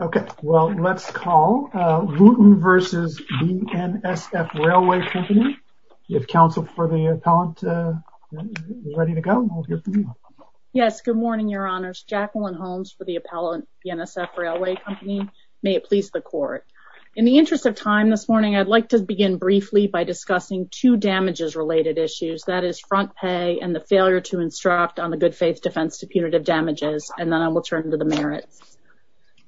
Okay, well let's call Wooten v. BNSF Railway Company. If counsel for the appellant is ready to go. Yes, good morning your honors. Jacqueline Holmes for the appellant BNSF Railway Company. May it please the court. In the interest of time this morning I'd like to begin briefly by discussing two damages related issues that is front pay and the failure to instruct on the good faith defense to The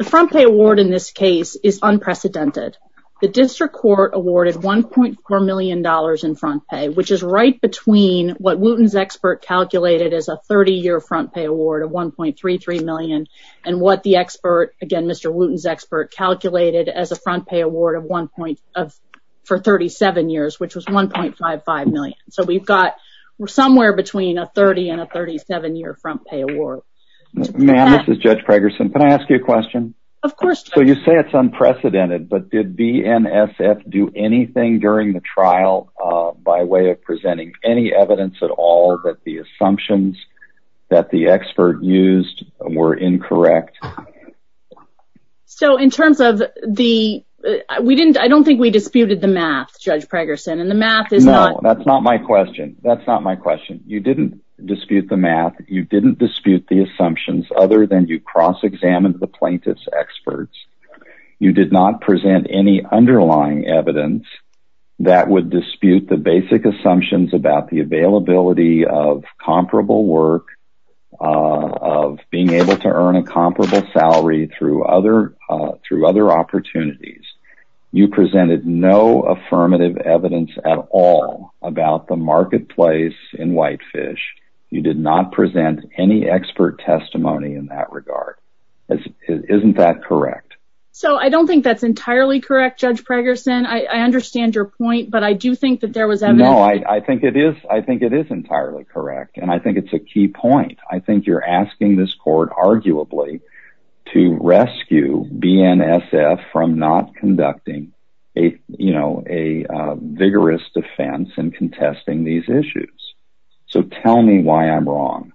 front pay award in this case is unprecedented. The district court awarded 1.4 million dollars in front pay which is right between what Wooten's expert calculated as a 30 year front pay award of 1.33 million and what the expert again Mr. Wooten's expert calculated as a front pay award of one point of for 37 years which was 1.55 million. So we've got somewhere between a 30 and a 37 year front pay award. Ma'am, this is Judge Pregerson. Can I ask you a question? Of course. So you say it's unprecedented but did BNSF do anything during the trial by way of presenting any evidence at all that the assumptions that the expert used were incorrect? So in terms of the we didn't I don't think we disputed the math Judge Pregerson and the math is. No that's not my question that's not my You didn't dispute the assumptions other than you cross-examined the plaintiffs experts. You did not present any underlying evidence that would dispute the basic assumptions about the availability of comparable work of being able to earn a comparable salary through other through other opportunities. You presented no affirmative evidence at all about the marketplace in Whitefish. You did not present any expert testimony in that regard. Isn't that correct? So I don't think that's entirely correct Judge Pregerson. I understand your point but I do think that there was evidence. No I think it is I think it is entirely correct and I think it's a key point. I think you're asking this court arguably to rescue BNSF from not conducting a you know a vigorous defense and contesting these issues. So tell me why I'm wrong.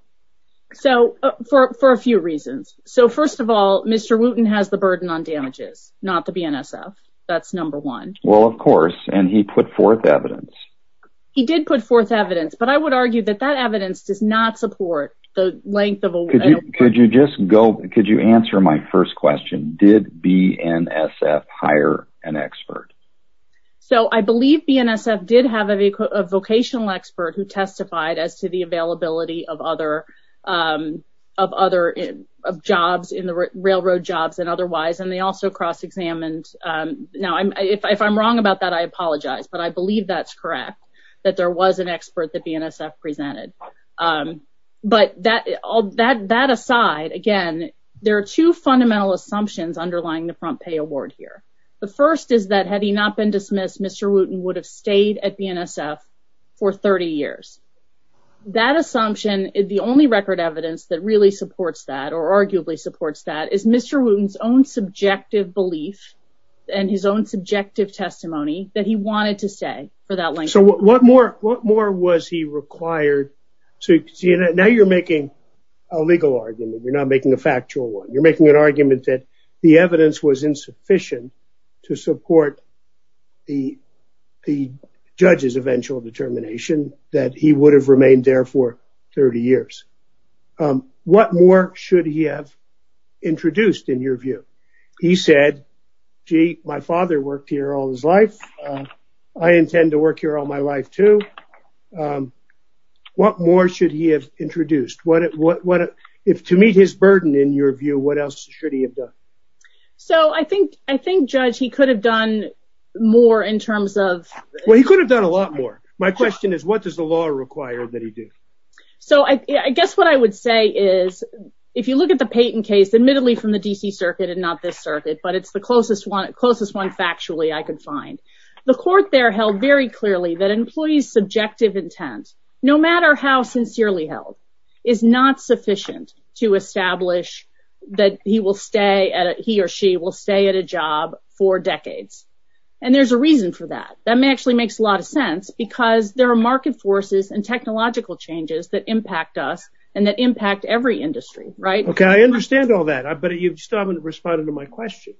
So for a few reasons so first of all Mr. Wooten has the burden on damages not the BNSF that's number one. Well of course and he put forth evidence. He did put forth evidence but I would argue that that evidence does not support the length of a. Could you just go could you answer my first question did BNSF hire an expert? So I believe BNSF did have a vocational expert who testified as to the availability of other of other jobs in the railroad jobs and otherwise and they also cross-examined. Now I'm if I'm wrong about that I apologize but I believe that's correct that there was an expert that BNSF presented. But that all that that aside again there are two fundamental assumptions underlying the front pay award here. The first is that had he not been dismissed Mr. Wooten would have stayed at BNSF for 30 years. That assumption is the only record evidence that really supports that or arguably supports that is Mr. Wooten's own subjective belief and his own subjective testimony that he wanted to stay for that length. So what more what more was he required to you know now you're making a legal argument you're not making a factual one you're making an argument that the evidence was sufficient to support the the judge's eventual determination that he would have remained there for 30 years. What more should he have introduced in your view? He said gee my father worked here all his life I intend to work here all my life too. What more should he have introduced what it what what if to meet his burden in your view what else should he have done? So I think I think judge he could have done more in terms of. Well he could have done a lot more. My question is what does the law require that he do? So I guess what I would say is if you look at the Payton case admittedly from the DC Circuit and not this circuit but it's the closest one closest one factually I could find. The court there held very clearly that employees subjective intent no matter how sincerely held is not sufficient to establish that he will stay at it he or she will stay at a job for decades and there's a reason for that that may actually makes a lot of sense because there are market forces and technological changes that impact us and that impact every industry right. Okay I understand all that I bet you still haven't responded to my question.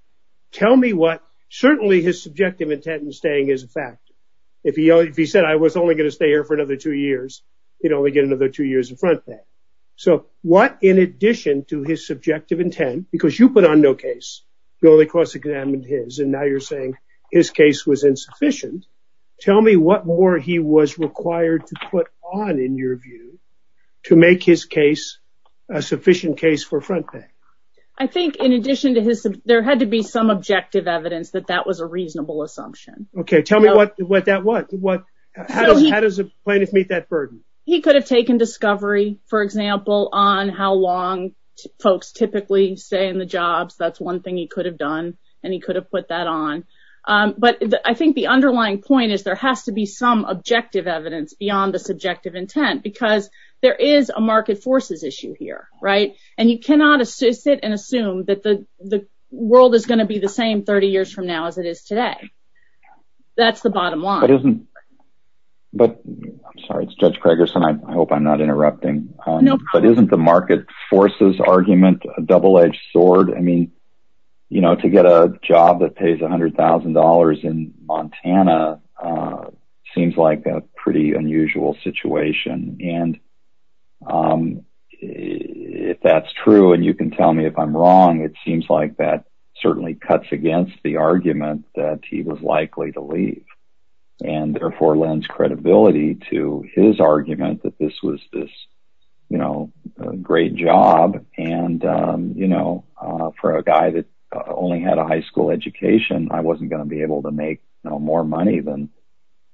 Tell me what certainly his subjective intent in staying is a fact. If he said I was only going to stay here for another two years you'd only get another two years in front pay. So what in addition to his subjective intent because you put on no case you only cross-examined his and now you're saying his case was insufficient. Tell me what more he was required to put on in your view to make his case a sufficient case for front pay. I think in addition to his there had to be some objective evidence that that was a reasonable assumption. Okay tell me what that was. How does a plaintiff meet that burden? He could have taken discovery for example on how long folks typically stay in the jobs that's one thing he could have done and he could have put that on but I think the underlying point is there has to be some objective evidence beyond the subjective intent because there is a market forces issue here right and you cannot assist it and assume that the the world is going to be the same 30 years from now as it is today. That's the bottom line. But isn't but I'm sorry it's Judge Craigerson I hope I'm not interrupting. No. But isn't the market forces argument a double-edged sword? I mean you know to get a job that pays a hundred thousand dollars in Montana seems like a pretty unusual situation and if that's true and you can tell me if I'm wrong it seems like that certainly cuts against the argument that he was likely to leave and therefore lends credibility to his argument that this was this you know great job and you know for a guy that only had a high school education I wasn't going to be able to make no more money than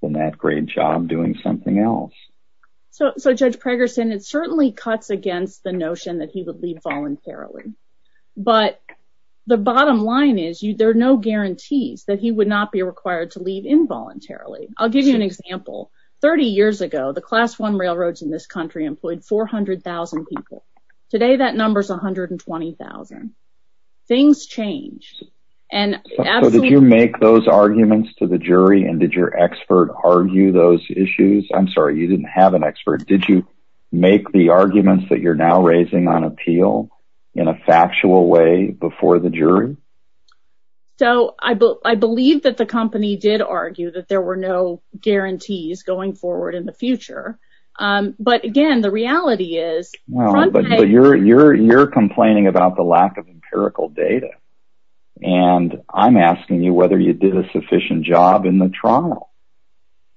than that great job doing something else. So so Judge Craigerson it certainly cuts against the notion that he would leave voluntarily. But the bottom line is you there are no guarantees that he would not be required to leave involuntarily. I'll give you an example. 30 years ago the class 1 railroads in this country employed 400,000 people. Today that number is a hundred and twenty thousand. Things change. So did you make those arguments to the jury and did your expert argue those issues? I'm sorry you didn't have an expert. Did you make the arguments that you're now raising on appeal in a factual way before the jury? So I believe that the company did argue that there were no guarantees going forward in the future. But again the reality is. Well but you're you're you're complaining about the lack of empirical data and I'm asking you whether you did a sufficient job in the trial.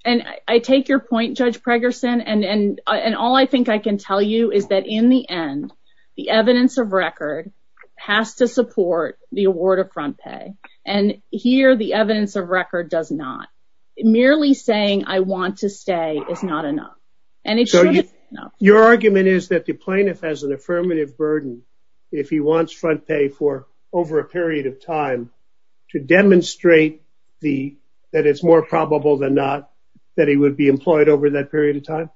And I take your point Judge Craigerson and and and all I think I can tell you is that in the end the evidence of record has to support the award of front pay. And here the evidence of record does not. Merely saying I want to stay is not enough. And it's not. Your argument is that the plaintiff has an affirmative burden if he wants front pay for over a period of time to demonstrate the that it's more probable than not that he would be employed over that period of time?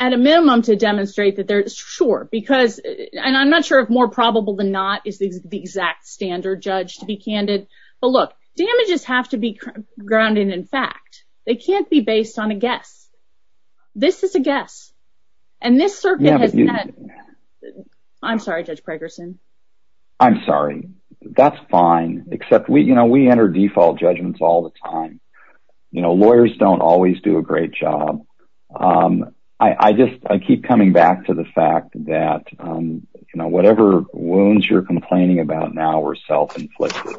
At a sure because and I'm not sure if more probable than not is the exact standard judge to be candid. But look damages have to be grounded in fact. They can't be based on a guess. This is a guess. And this circuit has been. I'm sorry Judge Craigerson. I'm sorry. That's fine except we you know we enter default judgments all the time. You know lawyers don't always do a great job. I just I keep coming back to the fact that you know whatever wounds you're complaining about now we're self-inflicted.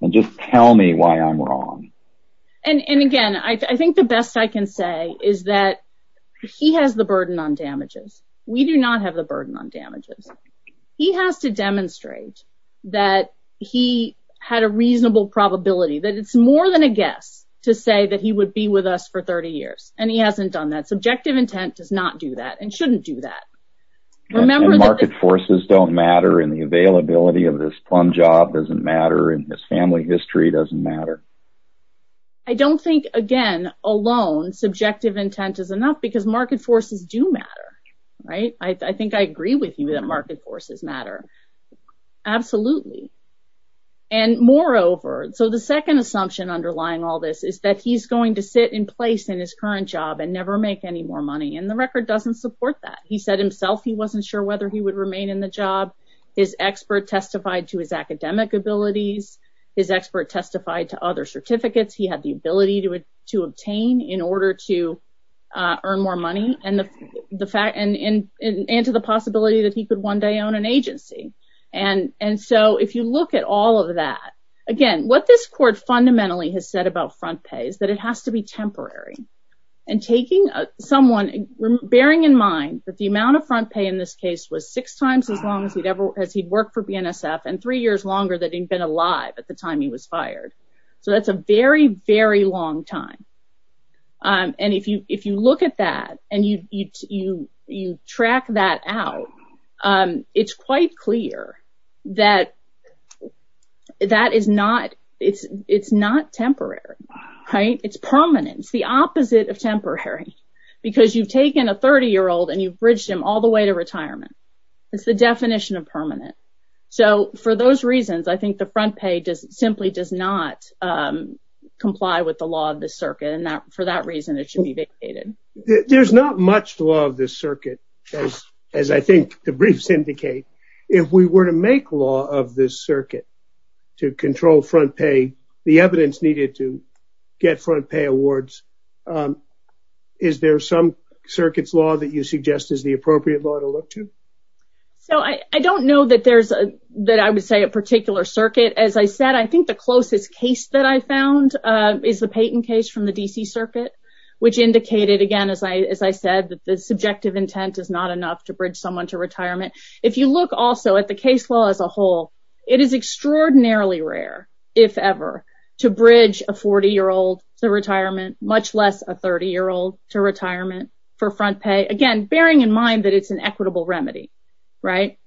And just tell me why I'm wrong. And again I think the best I can say is that he has the burden on damages. We do not have the burden on damages. He has to demonstrate that he had a reasonable probability that it's more than a guess to say that he would be with us for 30 years. And he hasn't do that. Remember that market forces don't matter in the availability of this plum job doesn't matter in this family history doesn't matter. I don't think again alone subjective intent is enough because market forces do matter. Right. I think I agree with you that market forces matter. Absolutely. And moreover so the second assumption underlying all this is that he's going to sit in place in his current job and never make any more money. And the record doesn't support that. He said himself he wasn't sure whether he would remain in the job. His expert testified to his academic abilities. His expert testified to other certificates. He had the ability to to obtain in order to earn more money. And the fact and into the possibility that he could one day own an agency. And and so if you look at all of that again what this court fundamentally has said about front pays that it has to be temporary and taking someone bearing in mind that the amount of front pay in this case was six times as long as he'd ever as he'd worked for BNSF and three years longer that he'd been alive at the time he was fired. So that's a very very long time. And if you if you look at that and you you you you track that out it's quite clear that that is not it's it's not temporary. Right. It's permanent. It's the opposite of temporary because you've taken a 30 year old and you've bridged him all the way to retirement. It's the definition of permanent. So for those reasons I think the front pay does simply does not comply with the law of the circuit and not for that reason it should be vacated. There's not much law of this circuit as I think the briefs indicate. If we were to make law of this circuit to control front pay the evidence needed to get front pay awards is there some circuits law that you suggest is the appropriate law to look to? So I don't know that there's a that I would say a particular circuit. As I said I think the closest case that I found is the Payton case from the DC Circuit which indicated again as I as I said that the subjective intent is not enough to bridge someone to retirement. If you also at the case law as a whole it is extraordinarily rare if ever to bridge a 40 year old to retirement much less a 30 year old to retirement for front pay. Again bearing in mind that it's an equitable remedy. Right.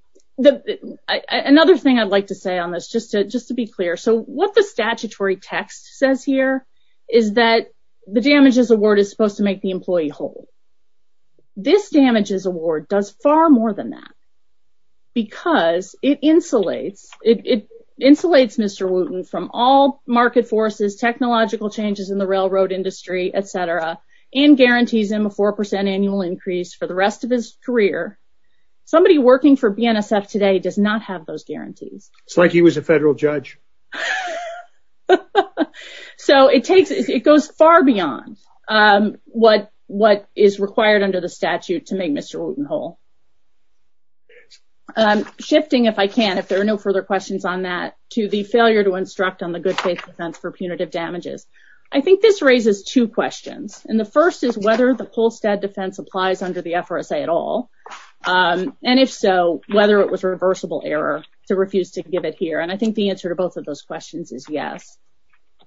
Another thing I'd like to say on this just to just to be clear so what the statutory text says here is that the damages award is supposed to make the employee whole. This because it insulates it insulates Mr. Wooten from all market forces technological changes in the railroad industry etc. and guarantees him a four percent annual increase for the rest of his career. Somebody working for BNSF today does not have those guarantees. It's like he was a federal judge. So it takes it goes far beyond what what is required under the statute to make Mr. Wooten whole. Shifting if I can if there are no further questions on that to the failure to instruct on the good faith defense for punitive damages. I think this raises two questions and the first is whether the Polstad defense applies under the FRSA at all and if so whether it was reversible error to refuse to give it here and I think the answer to both of those questions is yes.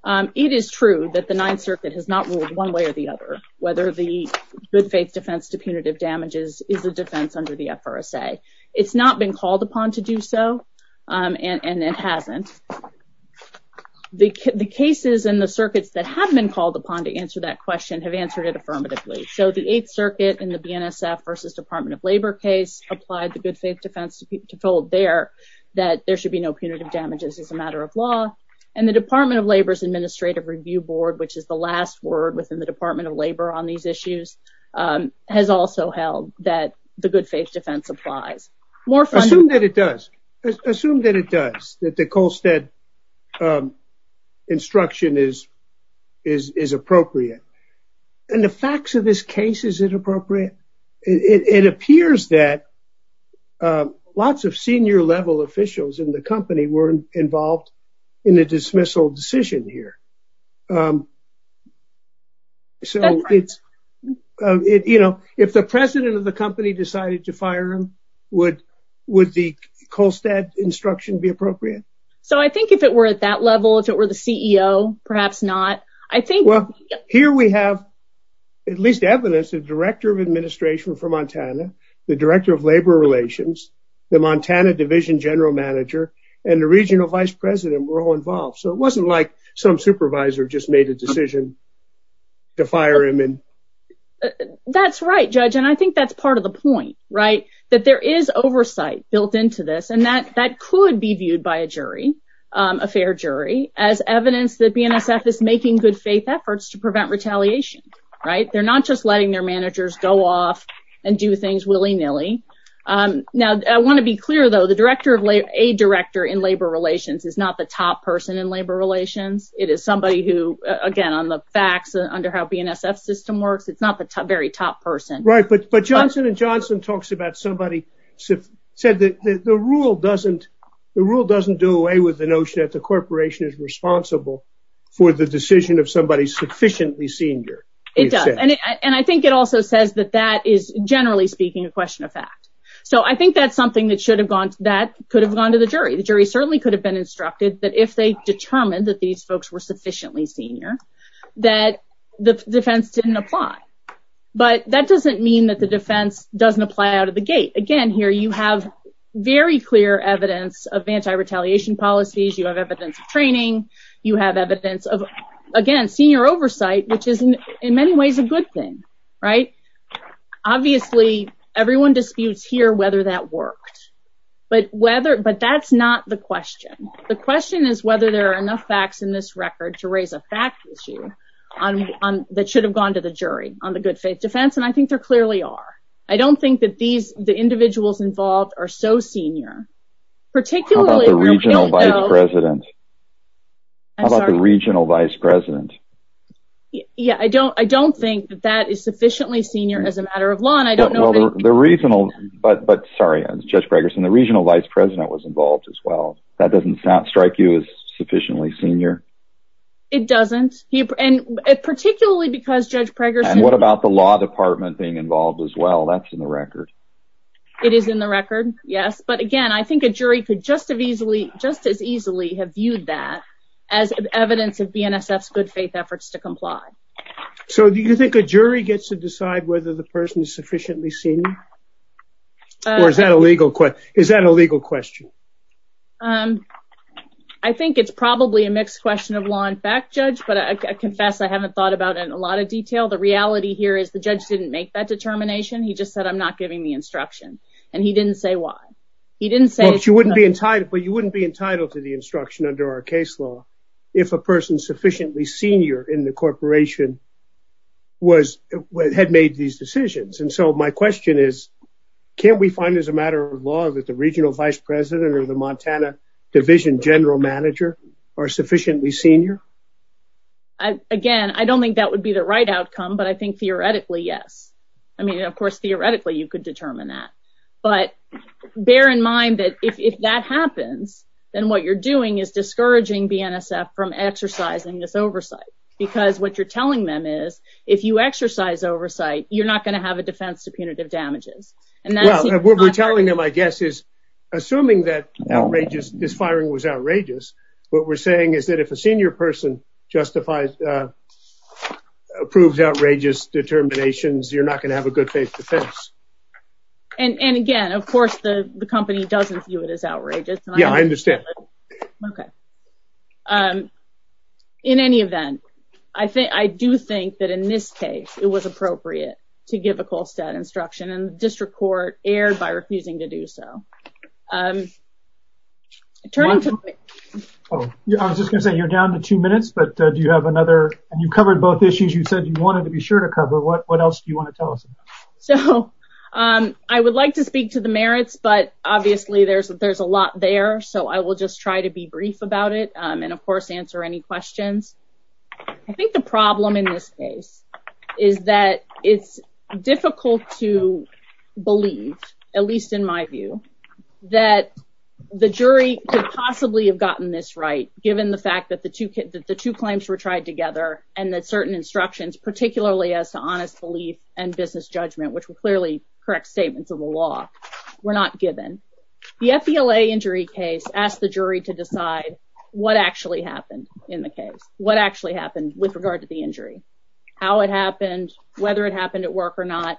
It is true that the Ninth Circuit has not ruled one way or the other whether the good faith defense to punitive damages is a defense under the FRSA. It's not been called upon to do so and it hasn't. The cases and the circuits that have been called upon to answer that question have answered it affirmatively. So the Eighth Circuit in the BNSF versus Department of Labor case applied the good faith defense to people to fold there that there should be no punitive damages as a matter of law and the Department of Labor's administrative review board which is the last word within the Department of Labor on these issues has also held that the good faith defense applies. Assume that it does. Assume that it does that the Colstead instruction is appropriate and the facts of this case is inappropriate. It appears that lots of senior-level officials in the so it's you know if the president of the company decided to fire him would would the Colstead instruction be appropriate? So I think if it were at that level if it were the CEO perhaps not. I think well here we have at least evidence of director of administration for Montana, the director of labor relations, the Montana division general manager, and the regional vice president were all to fire him. That's right judge and I think that's part of the point right that there is oversight built into this and that that could be viewed by a jury a fair jury as evidence that BNSF is making good faith efforts to prevent retaliation right they're not just letting their managers go off and do things willy-nilly. Now I want to be clear though the director of a director in labor relations is not the top person in labor relations it is somebody who again on the facts under how BNSF system works it's not the top very top person. Right but but Johnson and Johnson talks about somebody said that the rule doesn't the rule doesn't do away with the notion that the corporation is responsible for the decision of somebody sufficiently senior. It does and I think it also says that that is generally speaking a question of fact. So I think that's something that should have gone that could have gone to the jury. The jury certainly could have been instructed that if they determined that these folks were sufficiently senior that the defense didn't apply but that doesn't mean that the defense doesn't apply out of the gate. Again here you have very clear evidence of anti-retaliation policies you have evidence of training you have evidence of again senior oversight which is in many ways a good thing right. Obviously everyone disputes here whether that worked but whether but that's not the question. The question is whether there are enough facts in this record to raise a fact issue on that should have gone to the jury on the good faith defense and I think they're clearly are. I don't think that these the individuals involved are so senior particularly regional vice president. How about the regional vice president? Yeah I don't I don't think that that is sufficiently senior as a matter of law and I don't know the regional but but sorry I'm Judge Gregerson the regional vice president was involved as well. That doesn't strike you as sufficiently senior? It doesn't and particularly because Judge Gregerson. What about the law department being involved as well that's in the record. It is in the record yes but again I think a jury could just have easily just as easily have viewed that as evidence of BNSF's good faith efforts to comply. So do you think a jury gets to decide whether the person is sufficiently senior or is that a legal question? Is that a legal question? I think it's probably a mixed question of law and fact judge but I confess I haven't thought about in a lot of detail the reality here is the judge didn't make that determination he just said I'm not giving the instruction and he didn't say why. He didn't say you wouldn't be entitled but you wouldn't be entitled to the instruction under our case law if a person sufficiently senior in the corporation was what had made these that the regional vice president or the Montana division general manager are sufficiently senior? Again I don't think that would be the right outcome but I think theoretically yes. I mean of course theoretically you could determine that but bear in mind that if that happens then what you're doing is discouraging BNSF from exercising this oversight because what you're telling them is if you exercise oversight you're not going to have a defense to punitive damages. What we're telling them I guess is assuming that outrageous this firing was outrageous what we're saying is that if a senior person justifies approves outrageous determinations you're not going to have a good faith defense. And and again of course the the company doesn't view it as outrageous. Yeah I understand. Okay in any event I think I do think that in this case it was appropriate to give a Kolstad instruction and district court erred by refusing to do so. I was just gonna say you're down to two minutes but do you have another and you've covered both issues you said you wanted to be sure to cover what what else do you want to tell us? So I would like to speak to the merits but obviously there's there's a lot there so I will just try to be brief about it and of course answer any questions. I think the problem in this case is that it's difficult to believe at least in my view that the jury could possibly have gotten this right given the fact that the two kids that the two claims were tried together and that certain instructions particularly as to honest belief and business judgment which were clearly correct statements of the law were not given. The FBLA injury case asked the jury to decide what actually happened in the case what actually happened with regard to the how it happened whether it happened at work or not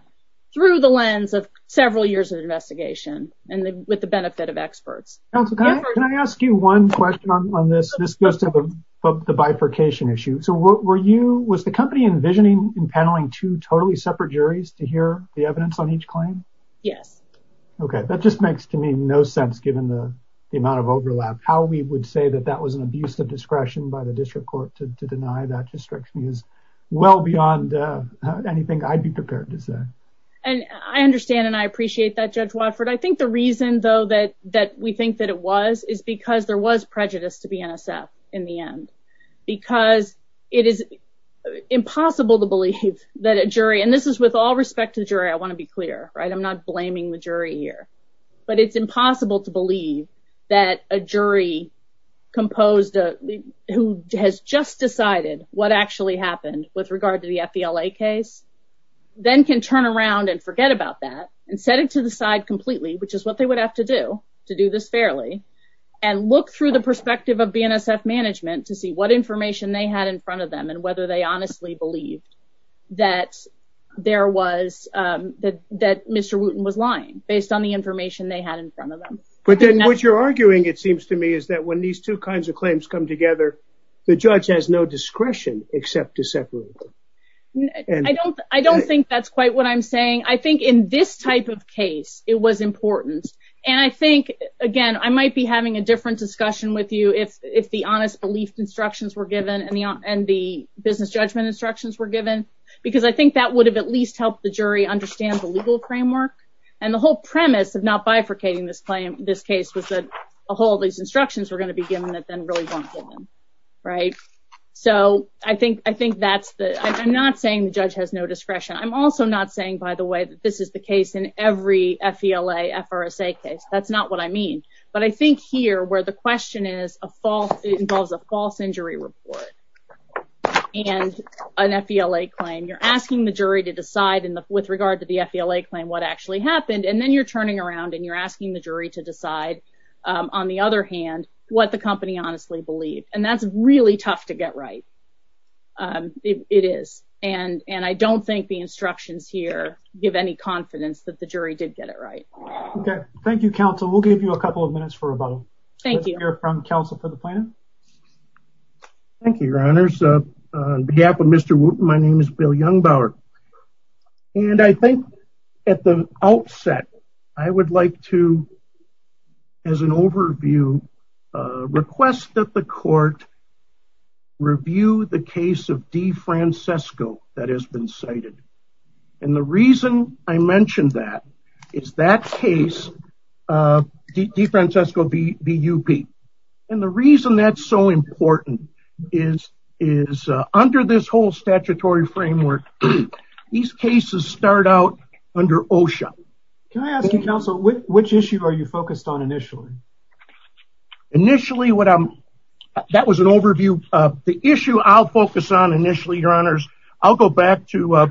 through the lens of several years of investigation and with the benefit of experts. Can I ask you one question on this this goes to the bifurcation issue so what were you was the company envisioning in paneling two totally separate juries to hear the evidence on each claim? Yes. Okay that just makes to me no sense given the amount of overlap how we would say that that was an abuse of discretion by the jury. It's well beyond anything I'd be prepared to say. And I understand and I appreciate that Judge Watford I think the reason though that that we think that it was is because there was prejudice to be NSF in the end because it is impossible to believe that a jury and this is with all respect to the jury I want to be clear right I'm not blaming the jury here but it's impossible to believe that a jury composed a who has just decided what actually happened with regard to the FBLA case then can turn around and forget about that and set it to the side completely which is what they would have to do to do this fairly and look through the perspective of BNSF management to see what information they had in front of them and whether they honestly believed that there was that that Mr. Wooten was lying based on the information they had in front of them. But then what you're arguing it seems to me is that when these two kinds of I don't I don't think that's quite what I'm saying I think in this type of case it was important and I think again I might be having a different discussion with you if if the honest belief instructions were given and the and the business judgment instructions were given because I think that would have at least helped the jury understand the legal framework and the whole premise of not bifurcating this claim this case was that a whole of these instructions were going to be given that then really don't fit them right so I think I think that's the I'm not saying the judge has no discretion I'm also not saying by the way that this is the case in every FBLA FRSA case that's not what I mean but I think here where the question is a false it involves a false injury report and an FBLA claim you're asking the jury to decide in the with regard to the FBLA claim what actually happened and then you're turning around and you're asking the jury to decide on the other hand what the company honestly believed and that's really tough to get right it is and and I don't think the instructions here give any confidence that the jury did get it right okay thank you counsel we'll give you a couple of minutes for a vote thank you here from counsel for the plan thank you your honors behalf of mr. whoop my name is bill young Bauer and I think at the outset I would like to as an overview request that the court review the case of D Francesco that has been cited and the reason I mentioned that it's that case D Francesco BUP and the reason that's so important is is under this whole statutory framework these cases start out under OSHA can I ask you counsel which issue are you focused on initially initially what I'm that was an overview of the issue I'll focus on initially your honors I'll go back to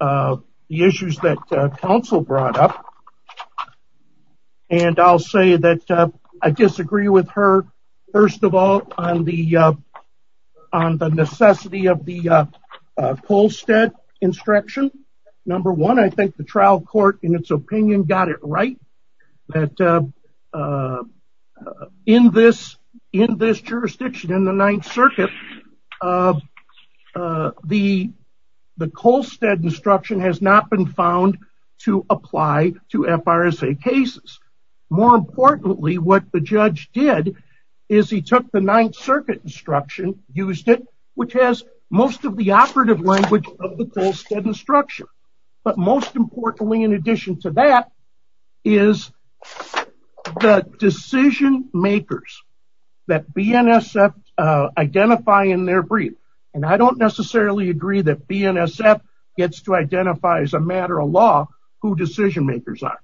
the issues that counsel brought up and I'll say that I disagree with her first of all on the on the necessity of the Colstead instruction number one I think the trial court in its opinion got it right that in this in this jurisdiction in the Ninth Circuit the the Colstead instruction has not been found to apply to FRSA cases more importantly what the judge did is he took the Ninth Circuit instruction used it which has most of the operative language of the Colstead instruction but most importantly in addition to that is the decision makers that BNSF identify in their brief and I don't necessarily agree that BNSF gets to identify as a matter of law who decision makers are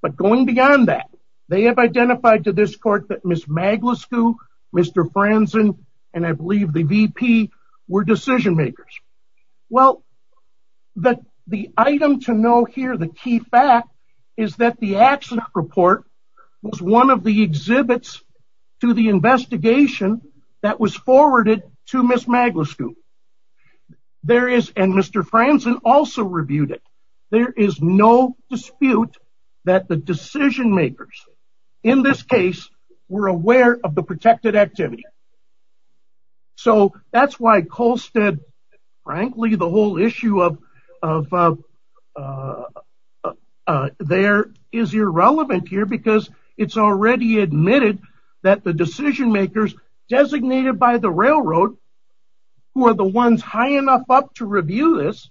but going beyond that they have identified to this court that Miss Maglisco Mr. Franzen and I believe the VP were decision makers well that the item to know here the key fact is that the accident report was one of the there is and Mr. Franzen also reviewed it there is no dispute that the decision makers in this case were aware of the protected activity so that's why Colstead frankly the whole issue of there is irrelevant here because it's already admitted that the decision makers designated by the railroad who are the ones high enough up to review this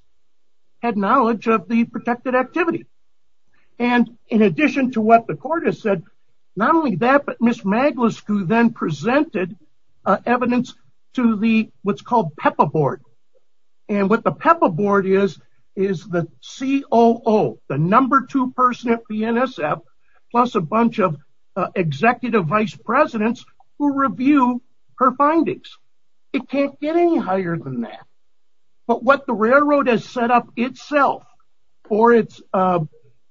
had knowledge of the protected activity and in addition to what the court has said not only that but Miss Maglisco then presented evidence to the what's called PEPA board and what the PEPA board is is the COO the number two person at BNSF plus a bunch of vice presidents who review her findings it can't get any higher than that but what the railroad has set up itself for its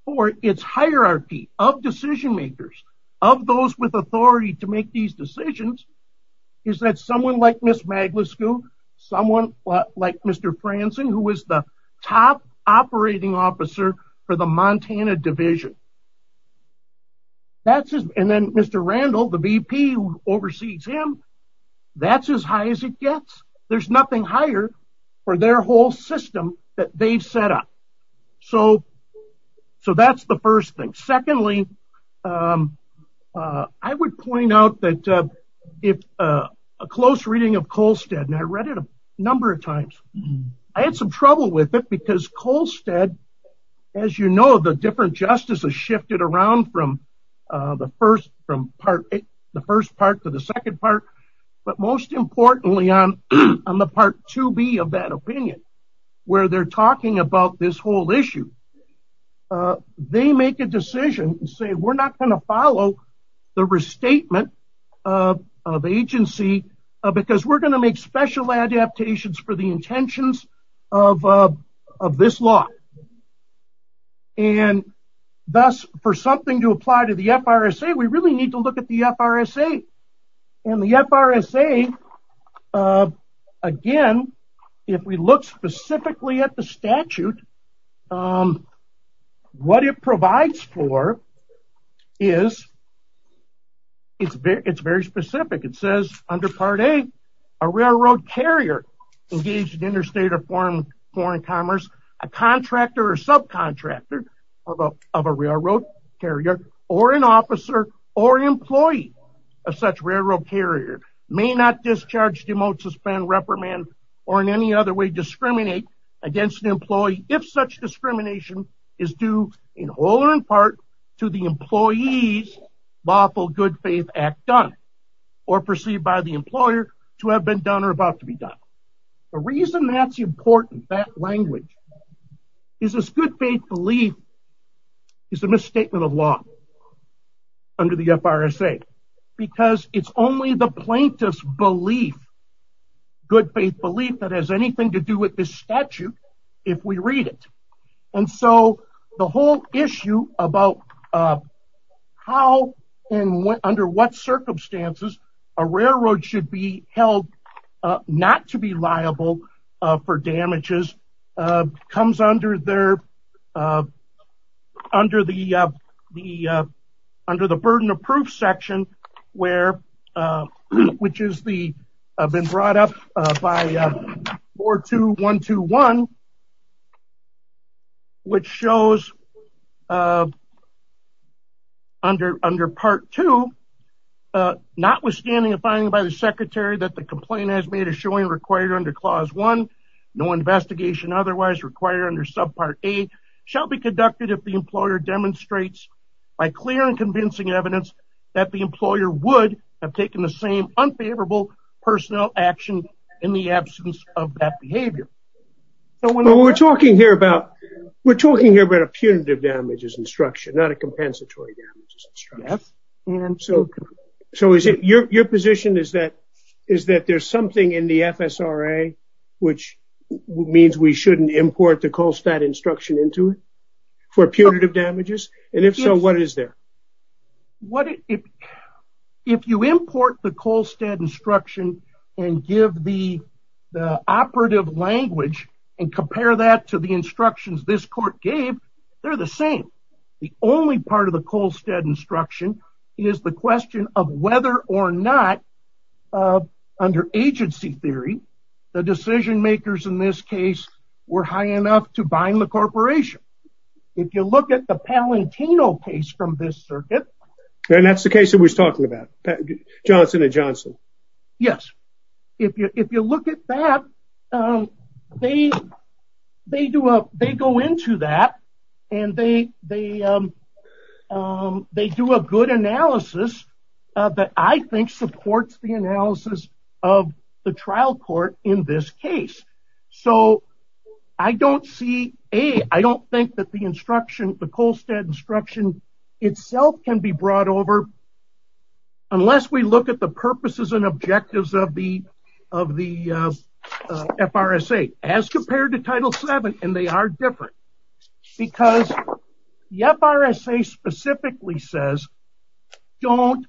for its hierarchy of decision makers of those with authority to make these decisions is that someone like Miss Maglisco someone like Mr. Franzen who was the top operating officer for Montana Division that's it and then Mr. Randall the VP oversees him that's as high as it gets there's nothing higher for their whole system that they've set up so so that's the first thing secondly I would point out that if a close reading of Colstead and I read it a number of times I had some trouble with it because Colstead as you know the different justices shifted around from the first from part the first part to the second part but most importantly on on the part to be of that opinion where they're talking about this whole issue they make a decision and say we're not going to follow the restatement of agency because we're going to make special adaptations for the intentions of this law and thus for something to apply to the FRSA we really need to look at the FRSA and the FRSA again if we look specifically at the statute what it provides for is it's very it's very specific it says under part a a railroad carrier engaged in interstate or foreign foreign commerce a contractor or subcontractor of a railroad carrier or an officer or employee of such railroad carrier may not discharge demote suspend reprimand or in any other way discriminate against an employee if such discrimination is due in whole and in part to the employees lawful good faith act done or perceived by the employer to have been done or about to be done the reason that's important that language is this good faith belief is a misstatement of law under the FRSA because it's only the plaintiffs belief good faith belief that has anything to do with this statute if we read it and so the whole issue about how and what under what not to be liable for damages comes under there under the the under the burden of proof section where which is the I've been brought up by four two one two one which shows under under part two notwithstanding a finding by the secretary that the complaint has made a showing required under clause one no investigation otherwise required under subpart a shall be conducted if the employer demonstrates by clear and convincing evidence that the employer would have taken the same unfavorable personnel action in the absence of that behavior we're talking here about we're talking here about a punitive damages instruction not a compensatory so so is it your position is that is that there's something in the FSRA which means we shouldn't import the Kolstad instruction into it for punitive damages and if so what is there what if if you import the Kolstad instruction and give the operative language and compare that to the instructions this court gave they're the same the only part of the Kolstad instruction is the question of whether or not under agency theory the decision makers in this case were high enough to bind the corporation if you look at the Palantino case from this circuit and that's the case that was talking about Johnson and Johnson yes if you if you look at that they they they go into that and they they they do a good analysis that I think supports the analysis of the trial court in this case so I don't see a I don't think that the instruction the Kolstad instruction itself can be brought over unless we look at the purposes and objectives of the of the FRSA as compared to title 7 and they are different because the FRSA specifically says don't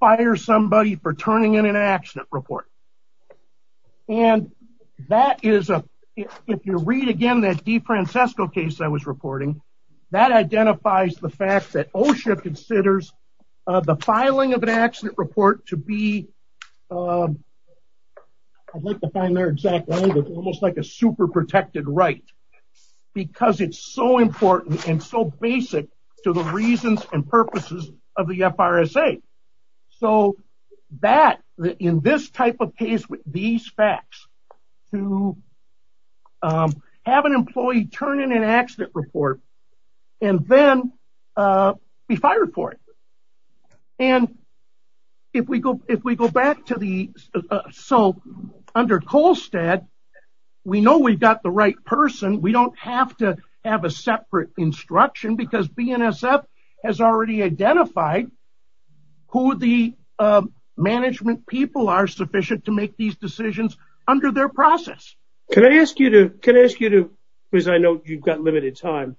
fire somebody for turning in an accident report and that is a if you read again that DeFrancisco case I was reporting that identifies the fact that OSHA considers the filing of an accident report to be I'd like to find their exact language almost like a super protected right because it's so important and so basic to the reasons and purposes of the FRSA so that in this type of case with these facts to have an employee turn in an accident report and then be fired for it and if we go if we go back to the so under Kolstad we know we've got the right person we don't have to have a separate instruction because BNSF has already identified who the management people are sufficient to make these decisions under their process can I ask you to can I ask you to because I know you've got limited time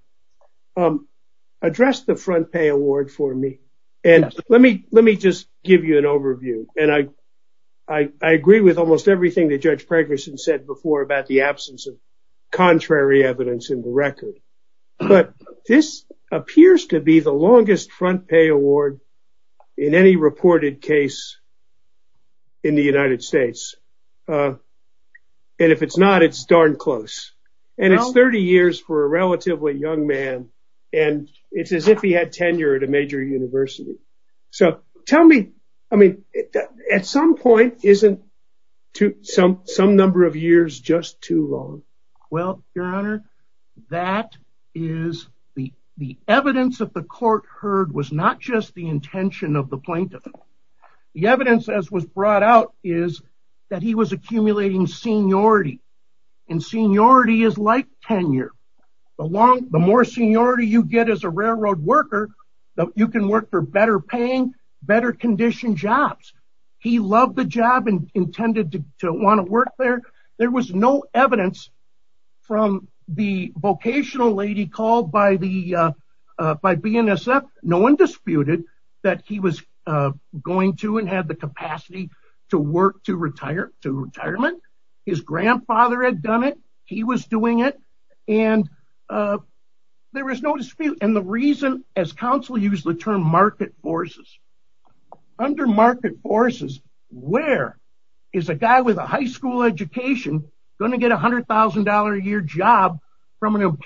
address the front pay award for me and let me let me just give you an overview and I I agree with almost everything that Judge Pregerson said before about the absence of contrary evidence in the record but this appears to be the longest front pay award in any reported case in the United States and if it's not it's darn close and it's 30 years for a relatively young man and it's as if he had tenure at a major university so tell me I mean at some point isn't to some some number of years just too long well your honor that is the the evidence of the court heard was not just the intention of the that he was accumulating seniority and seniority is like tenure along the more seniority you get as a railroad worker you can work for better paying better condition jobs he loved the job and intended to want to work there there was no evidence from the vocational lady called by the by BNSF no one disputed that he was going to and had the capacity to work to retire to retirement his grandfather had done it he was doing it and there was no dispute and the reason as counsel use the term market forces under market forces where is a guy with a high school education going to get $100,000 a year job from an what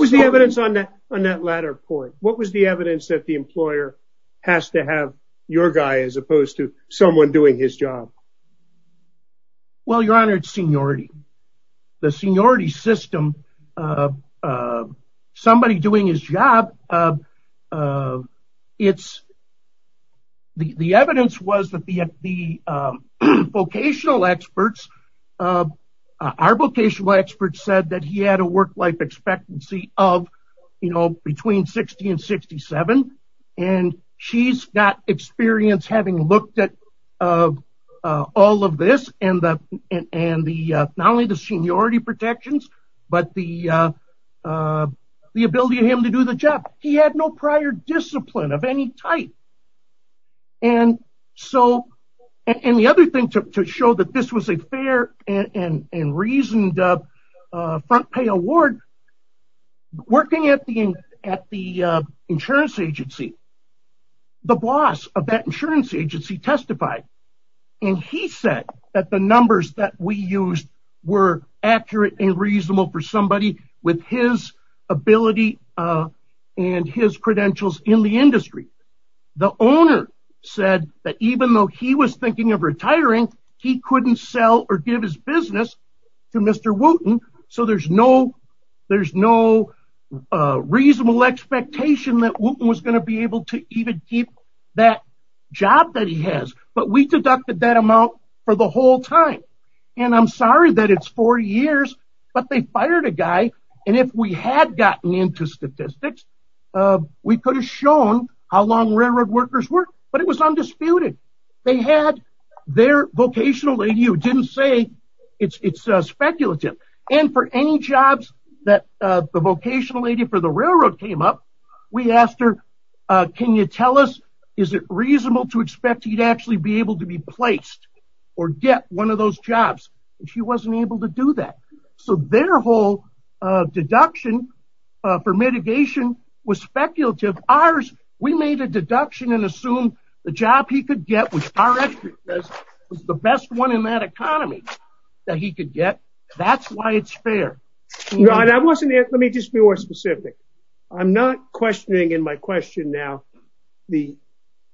was the evidence on that on that latter point what was the evidence that the employer has to have your guy as opposed to someone doing his job well your honor it's seniority the seniority system somebody doing his job it's the the evidence was that the the vocational experts our vocational experts said that he had a work-life expectancy of you know between 60 and 67 and she's got experience having looked at all of this and the and the not only the seniority protections but the the ability of him to do the job he had no prior discipline of any type and so and the other thing to show that this was a fair and and reasoned up front pay award working at the end at the insurance agency the boss of that insurance agency testified and he said that the numbers that we used were accurate and reasonable for somebody with his ability and his credentials in the industry the owner said that even though he was thinking of mr. Wooten so there's no there's no reasonable expectation that was going to be able to even keep that job that he has but we deducted that amount for the whole time and I'm sorry that it's four years but they fired a guy and if we had gotten into statistics we could have shown how long railroad workers work but it was undisputed they had their vocational lady who didn't say it's speculative and for any jobs that the vocational lady for the railroad came up we asked her can you tell us is it reasonable to expect he'd actually be able to be placed or get one of those jobs and she wasn't able to do that so their whole deduction for mitigation was speculative ours we made a deduction and the job he could get was the best one in that economy that he could get that's why it's fair no and I wasn't it let me just be more specific I'm not questioning in my question now the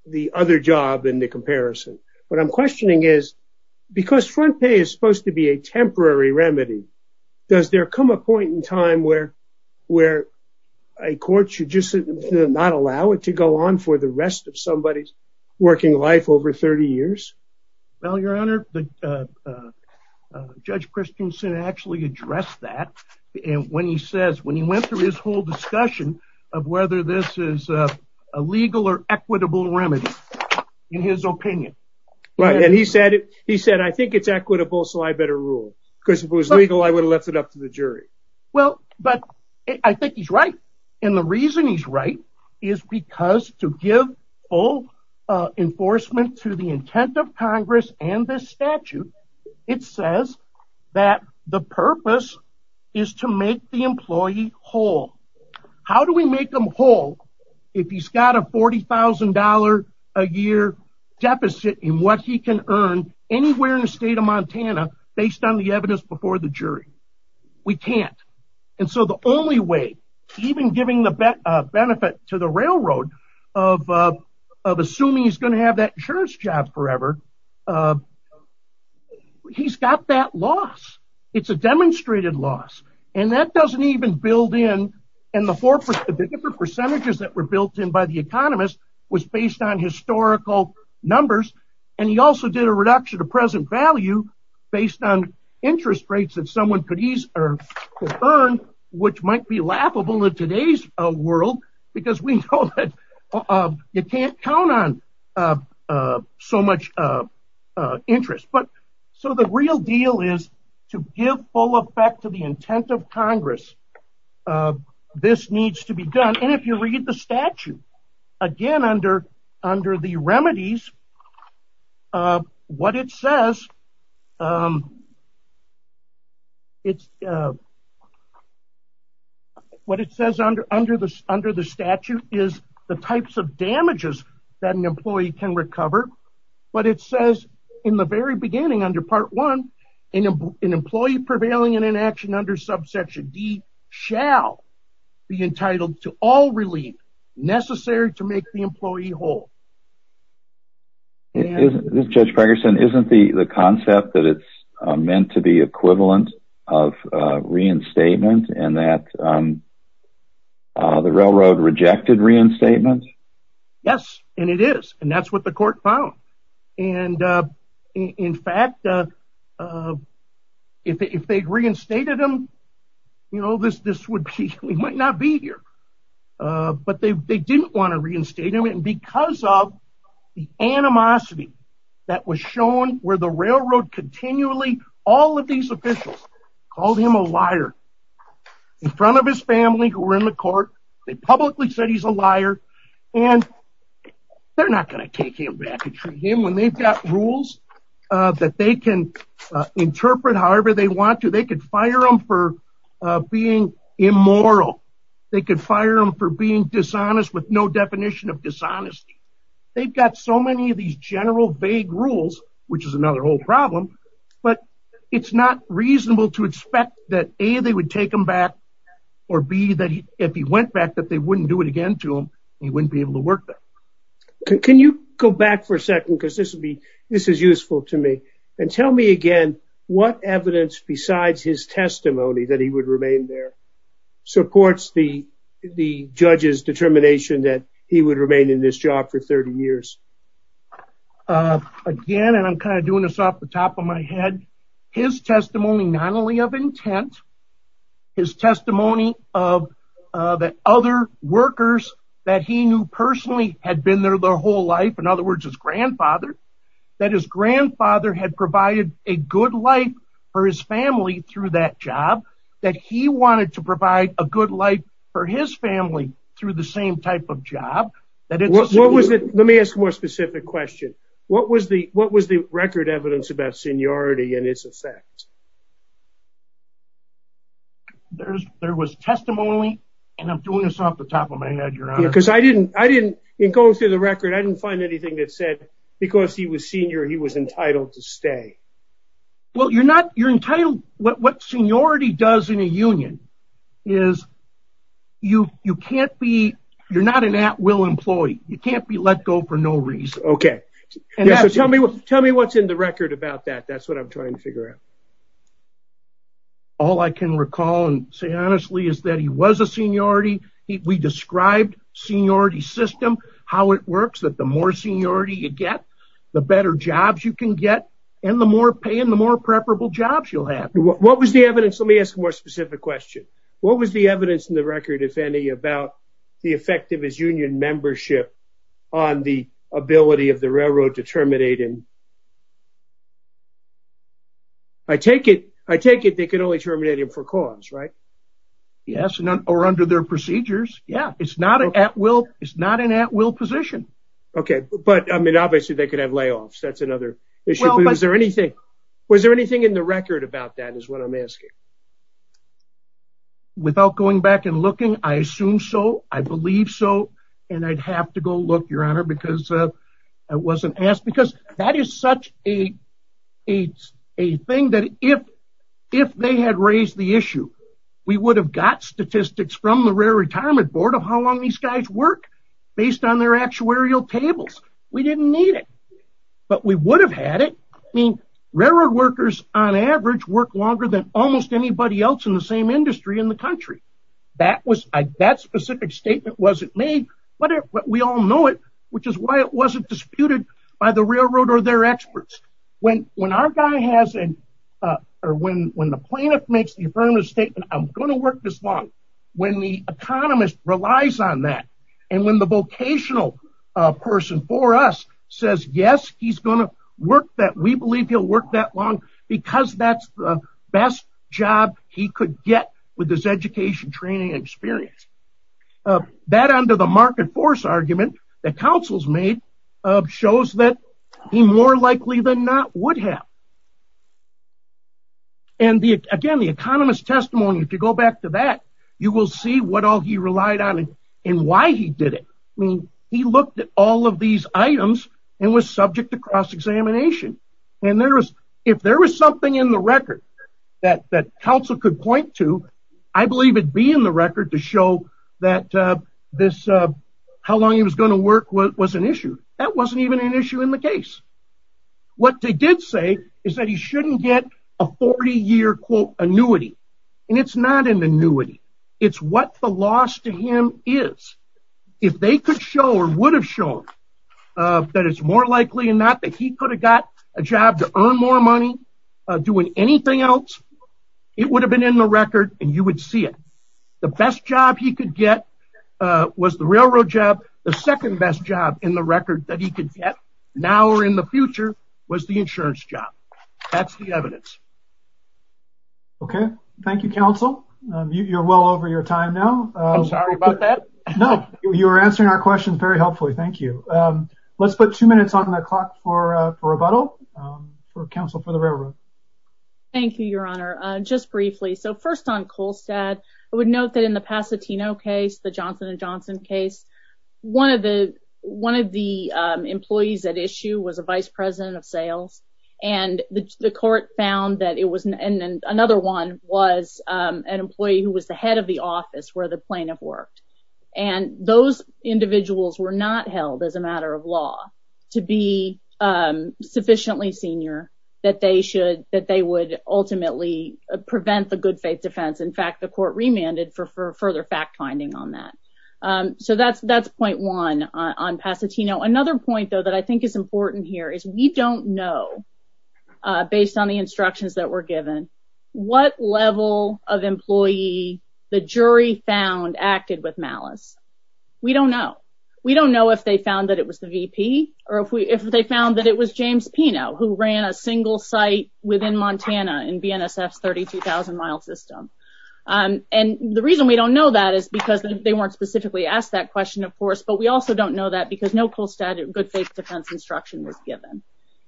the other job in the comparison what I'm questioning is because front pay is supposed to be a temporary remedy does there come a point in time where where a court should just not allow it to go on for the rest of somebody's working life over 30 years well your honor the judge Christensen actually addressed that and when he says when he went through his whole discussion of whether this is a legal or equitable remedy in his opinion right and he said he said I think it's equitable so I better rule because if it was legal I would have left it up to the jury well but I think he's right and the reason he's right is because to give all enforcement to the intent of Congress and this statute it says that the purpose is to make the employee whole how do we make them whole if he's got a $40,000 a year deficit in what he can earn anywhere in the state of Montana based on the evidence before the jury we can't and so the only way even giving the benefit to the railroad of assuming he's going to have that insurance job forever he's got that loss it's a demonstrated loss and that doesn't even build in and the four percentages that were built in by the economist was based on historical numbers and he also did a which might be laughable in today's a world because we know that you can't count on so much interest but so the real deal is to give full effect to the intent of Congress this needs to be done and if you read the statute again under the remedies what it says it's what it says under under this under the statute is the types of damages that an employee can recover but it says in the very beginning under part one in an employee prevailing in an action under subsection shall be entitled to all relief necessary to make the employee whole judge Ferguson isn't the the concept that it's meant to be equivalent of reinstatement and that the railroad rejected reinstatement yes and it is and that's what the court found and in fact if they reinstated him you know this this would be we might not be here but they didn't want to reinstate him and because of the animosity that was shown where the railroad continually all of these officials called him a liar in front of his family who were in the court they publicly said a liar and they're not going to take him back to him when they've got rules that they can interpret however they want to they could fire them for being immoral they could fire them for being dishonest with no definition of dishonesty they've got so many of these general vague rules which is another whole problem but it's not reasonable to expect that a they would take back or be that he if he went back that they wouldn't do it again to him he wouldn't be able to work there can you go back for a second because this would be this is useful to me and tell me again what evidence besides his testimony that he would remain there supports the the judge's determination that he would remain in this job for 30 years again and I'm kind of doing this off the top of my head his testimony not only of intent his testimony of the other workers that he knew personally had been there their whole life in other words his grandfather that his grandfather had provided a good life for his family through that job that he wanted to provide a good life for his family through the same type of job that it was what was it let me ask more question what was the what was the record evidence about seniority and its effect there's there was testimony and I'm doing this off the top of my head your honor because I didn't I didn't go through the record I didn't find anything that said because he was senior he was entitled to stay well you're not you're entitled what seniority does in a union is you can't be you're not an at-will employee you can't be let go for no reason okay and tell me what tell me what's in the record about that that's what I'm trying to figure out all I can recall and say honestly is that he was a seniority we described seniority system how it works that the more seniority you get the better jobs you can get and the more paying the more preferable jobs you'll have what was the evidence let me ask a more specific question what was the evidence in the about the effect of his union membership on the ability of the railroad to terminate him I take it I take it they can only terminate him for cause right yes or under their procedures yeah it's not an at-will it's not an at-will position okay but I mean obviously they could have layoffs that's another issue is there anything was there anything in the record about that is what I'm asking without going back and looking I assume so I believe so and I'd have to go look your honor because I wasn't asked because that is such a it's a thing that if if they had raised the issue we would have got statistics from the railroad retirement board of how long these guys work based on their actuarial tables we didn't need it but we would have had it I mean railroad workers on average work longer than almost anybody else in the same industry in the country that was that specific statement wasn't made but we all know it which is why it wasn't disputed by the railroad or their experts when when our guy has an uh or when when the plaintiff makes the affirmative statement I'm going to work this long when the economist relies on that and when the vocational uh person for us says yes he's going to work that we believe he'll work that long because that's the best job he could get with this education training experience that under the market force argument that councils made uh shows that he more likely than not would have and the again the economist testimony if you go back to that you will see what all he relied on and why he did it I mean he looked at all of these items and was subject to cross-examination and there was if there was something in the record that that council could point to I believe it'd be in the record to show that uh this uh how long he was going to work what was an issue that wasn't even an issue in the case what they did say is that he shouldn't get a 40-year quote annuity and it's not an annuity it's what the loss to him is if they could show or would have shown uh that it's more likely than not that he could have got a job to earn more money uh doing anything else it would have been in the record and you would see it the best job he could get uh was the railroad job the second best job in the record that he could get now or in the future was the insurance job that's the evidence okay thank you council you're well over your time now I'm sorry about that no you were answering our questions very helpfully thank you um let's put two minutes on the clock for uh for rebuttal um for council for the railroad thank you your honor uh just briefly so first on kolstad I would note that in the pasatino case the johnson and johnson case one of the one of the um employees at issue was a was um an employee who was the head of the office where the plaintiff worked and those individuals were not held as a matter of law to be um sufficiently senior that they should that they would ultimately prevent the good faith defense in fact the court remanded for for further fact finding on that um so that's that's point one on pasatino another point though that I think is important here is we don't know uh based on the instructions that were given what level of employee the jury found acted with malice we don't know we don't know if they found that it was the vp or if we if they found that it was james pinot who ran a single site within montana in bnsf's 32 000 mile system um and the reason we don't know that is because they weren't specifically asked that question of course but we also don't know that because no cool static good faith defense instruction was given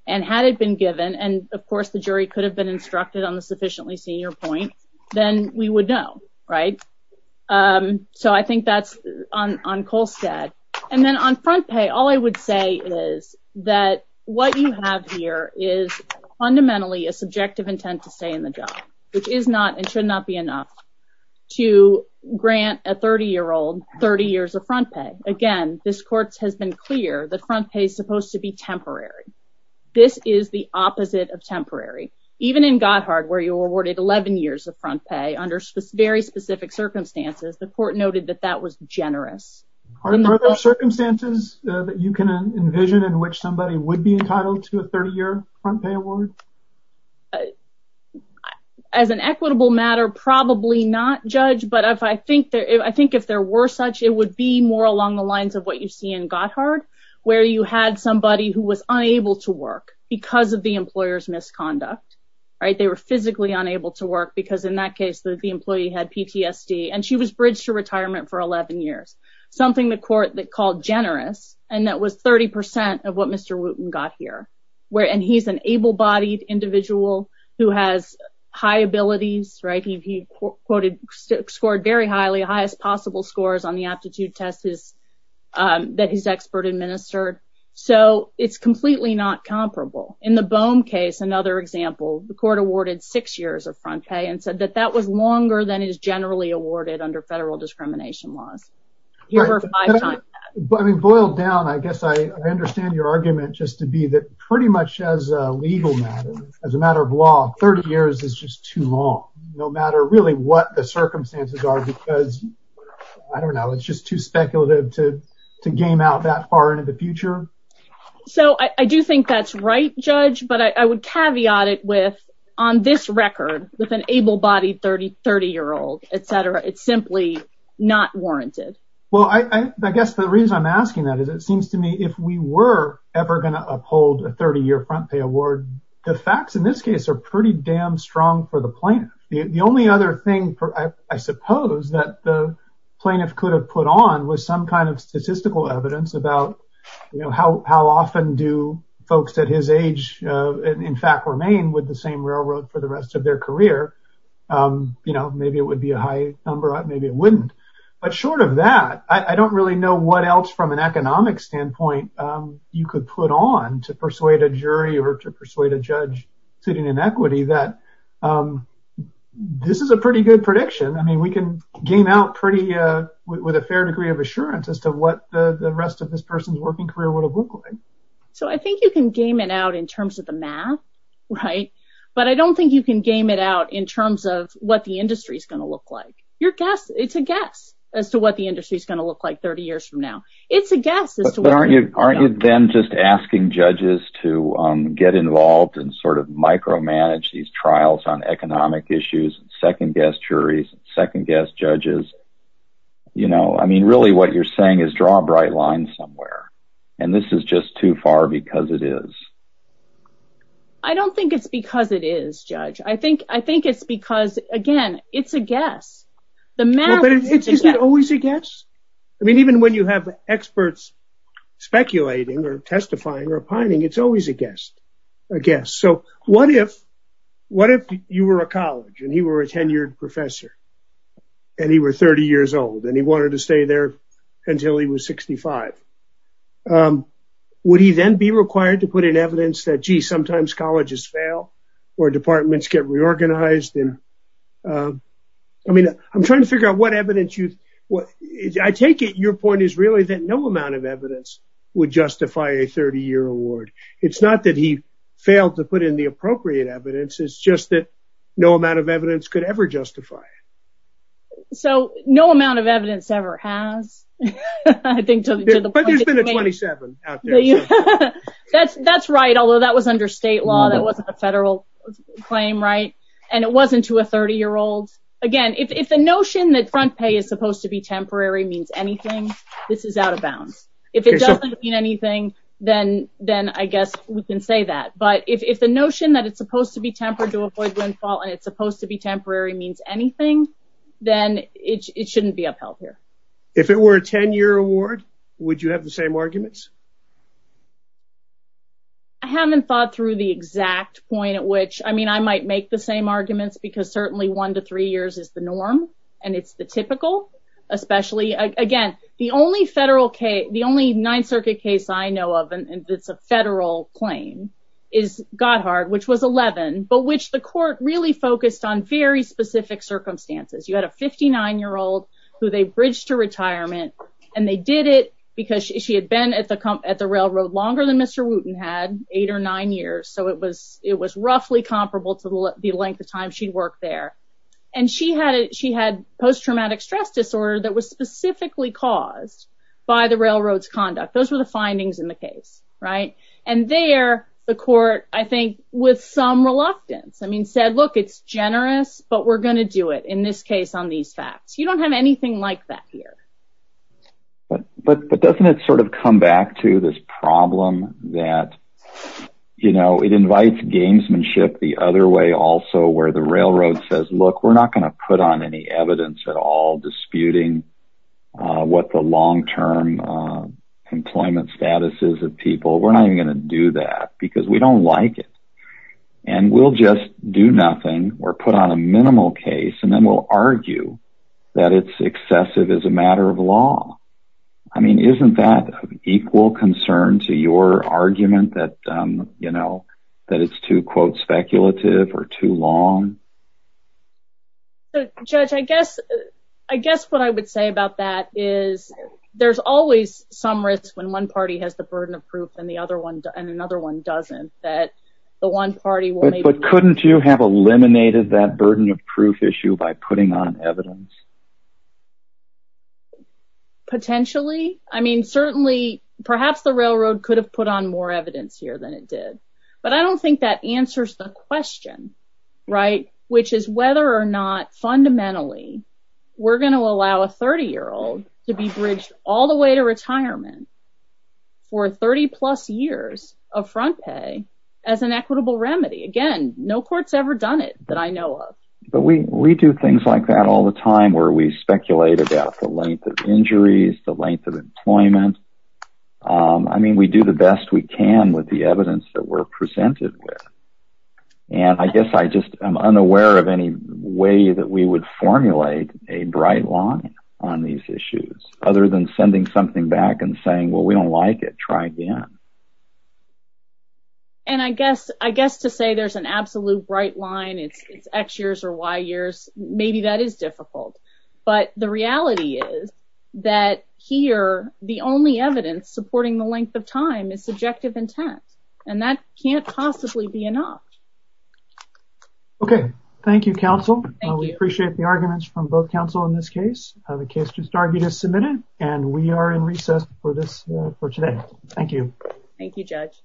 and had it been given and of course the jury could have been instructed on the sufficiently senior point then we would know right um so i think that's on on colstad and then on front pay all i would say is that what you have here is fundamentally a subjective intent to stay in the job which is not and should not be enough to grant a 30 year old 30 years of front pay again this court has been clear that front pay is supposed to be temporary this is the opposite of temporary even in gothard where you were awarded 11 years of front pay under very specific circumstances the court noted that that was generous are there circumstances that you can envision in which somebody would be entitled to a 30 year front pay award as an equitable matter probably not judge but if i think that i think if there were such it would be more along the lines of what you see in gothard where you had somebody who was unable to work because of the employer's misconduct right they were physically unable to work because in that case the employee had ptsd and she was bridged to retirement for 11 years something the court that called generous and that was 30 of what mr wooten got here where and he's an able-bodied individual who has high abilities right he quoted scored very highly highest possible scores on the aptitude test is that he's expert administered so it's completely not comparable in the bohm case another example the court awarded six years of front pay and said that that was longer than is generally awarded under federal discrimination laws here are five times i mean boiled down i guess i understand your argument just to be that pretty much as a legal matter as a matter of law 30 years is just too long no matter really what the circumstances are because i don't know it's just too speculative to to game out that far into the future so i do think that's right judge but i would caveat it with on this record with an able-bodied 30 30 year old etc it's simply not warranted well i i guess the reason i'm asking that is it seems to me if we were ever going to uphold a 30-year front pay award the facts in this case are pretty damn strong for the plaintiff the only other thing for i suppose that the plaintiff could have put on was some kind of statistical evidence about you know how how often do folks at his age uh in fact remain with the same railroad for the rest of their career um you know maybe it would be a high number maybe it wouldn't but short of that i i don't really know what else from an economic standpoint um you could put on to persuade a jury or to persuade a judge sitting in equity that this is a pretty good prediction i mean we can game out pretty uh with a fair degree of assurance as to what the the rest of this person's working career would have looked like so i think you can game it out in terms of the math right but i don't think you can game it out in terms of what the industry is going to look like your guess it's a guess as to what the industry is going to look like 30 years from now it's a guess but aren't you aren't you then just asking judges to um get involved and sort of micromanage these trials on economic issues second guest juries second guest judges you know i mean really what you're saying is draw a bright line somewhere and this is just too far because it is i don't think it's because it is judge i think i think it's because again it's a guess the man isn't always a guess i mean even when you have experts speculating or a guess so what if what if you were a college and he were a tenured professor and he were 30 years old and he wanted to stay there until he was 65 um would he then be required to put in evidence that gee sometimes colleges fail or departments get reorganized and um i mean i'm trying to figure out what evidence you what i take it your point is really that no amount of failed to put in the appropriate evidence is just that no amount of evidence could ever justify it so no amount of evidence ever has i think but there's been a 27 out there that's that's right although that was under state law that wasn't a federal claim right and it wasn't to a 30 year old again if the notion that front pay is supposed to be temporary means anything this is out of bounds if it doesn't mean anything then then i guess we can say that but if the notion that it's supposed to be tempered to avoid windfall and it's supposed to be temporary means anything then it shouldn't be upheld here if it were a 10-year award would you have the same arguments i haven't thought through the exact point at which i mean i might make the same arguments because certainly one to three years is the norm and it's the typical especially again the only federal case the only nine circuit case i know of and it's a federal claim is gothard which was 11 but which the court really focused on very specific circumstances you had a 59 year old who they bridged to retirement and they did it because she had been at the company at the railroad longer than mr wooten had eight or nine years so it was it was roughly comparable to the length of time she worked there and she had it she had post-traumatic stress disorder that was specifically caused by the railroad's conduct those were the findings in right and there the court i think with some reluctance i mean said look it's generous but we're going to do it in this case on these facts you don't have anything like that here but but but doesn't it sort of come back to this problem that you know it invites gamesmanship the other way also where the railroad says look we're not going to put on any evidence at all disputing what the long-term employment status is of people we're not even going to do that because we don't like it and we'll just do nothing or put on a minimal case and then we'll argue that it's excessive as a matter of law i mean isn't that of equal concern to your argument that um you know that it's too quote speculative or too long judge i guess i guess what i would say about that is there's always some risk when one party has the burden of proof and the other one and another one doesn't that the one party but couldn't you have eliminated that burden of proof issue by putting on evidence potentially i mean certainly perhaps the railroad could have put on more evidence here than it did but i don't think that answers the question right which is whether or not fundamentally we're going to allow a 30 year old to be bridged all the way to retirement for 30 plus years of front pay as an equitable remedy again no court's ever done it that i know of but we we do things like that all the time where we speculate about the length of injuries the length of employment i mean we do the best we can with the evidence that we're presented with and i guess i just i'm unaware of any way that we would formulate a bright line on these issues other than sending something back and saying well we don't like it try again and i guess i guess to say there's an absolute bright line it's it's x years or y years maybe that is difficult but the reality is that here the only evidence supporting the length of time is subjective intent and that can't possibly be enough okay thank you counsel we appreciate the arguments from both counsel in this case the case just argued is submitted and we are in recess for this for today thank you thank you judge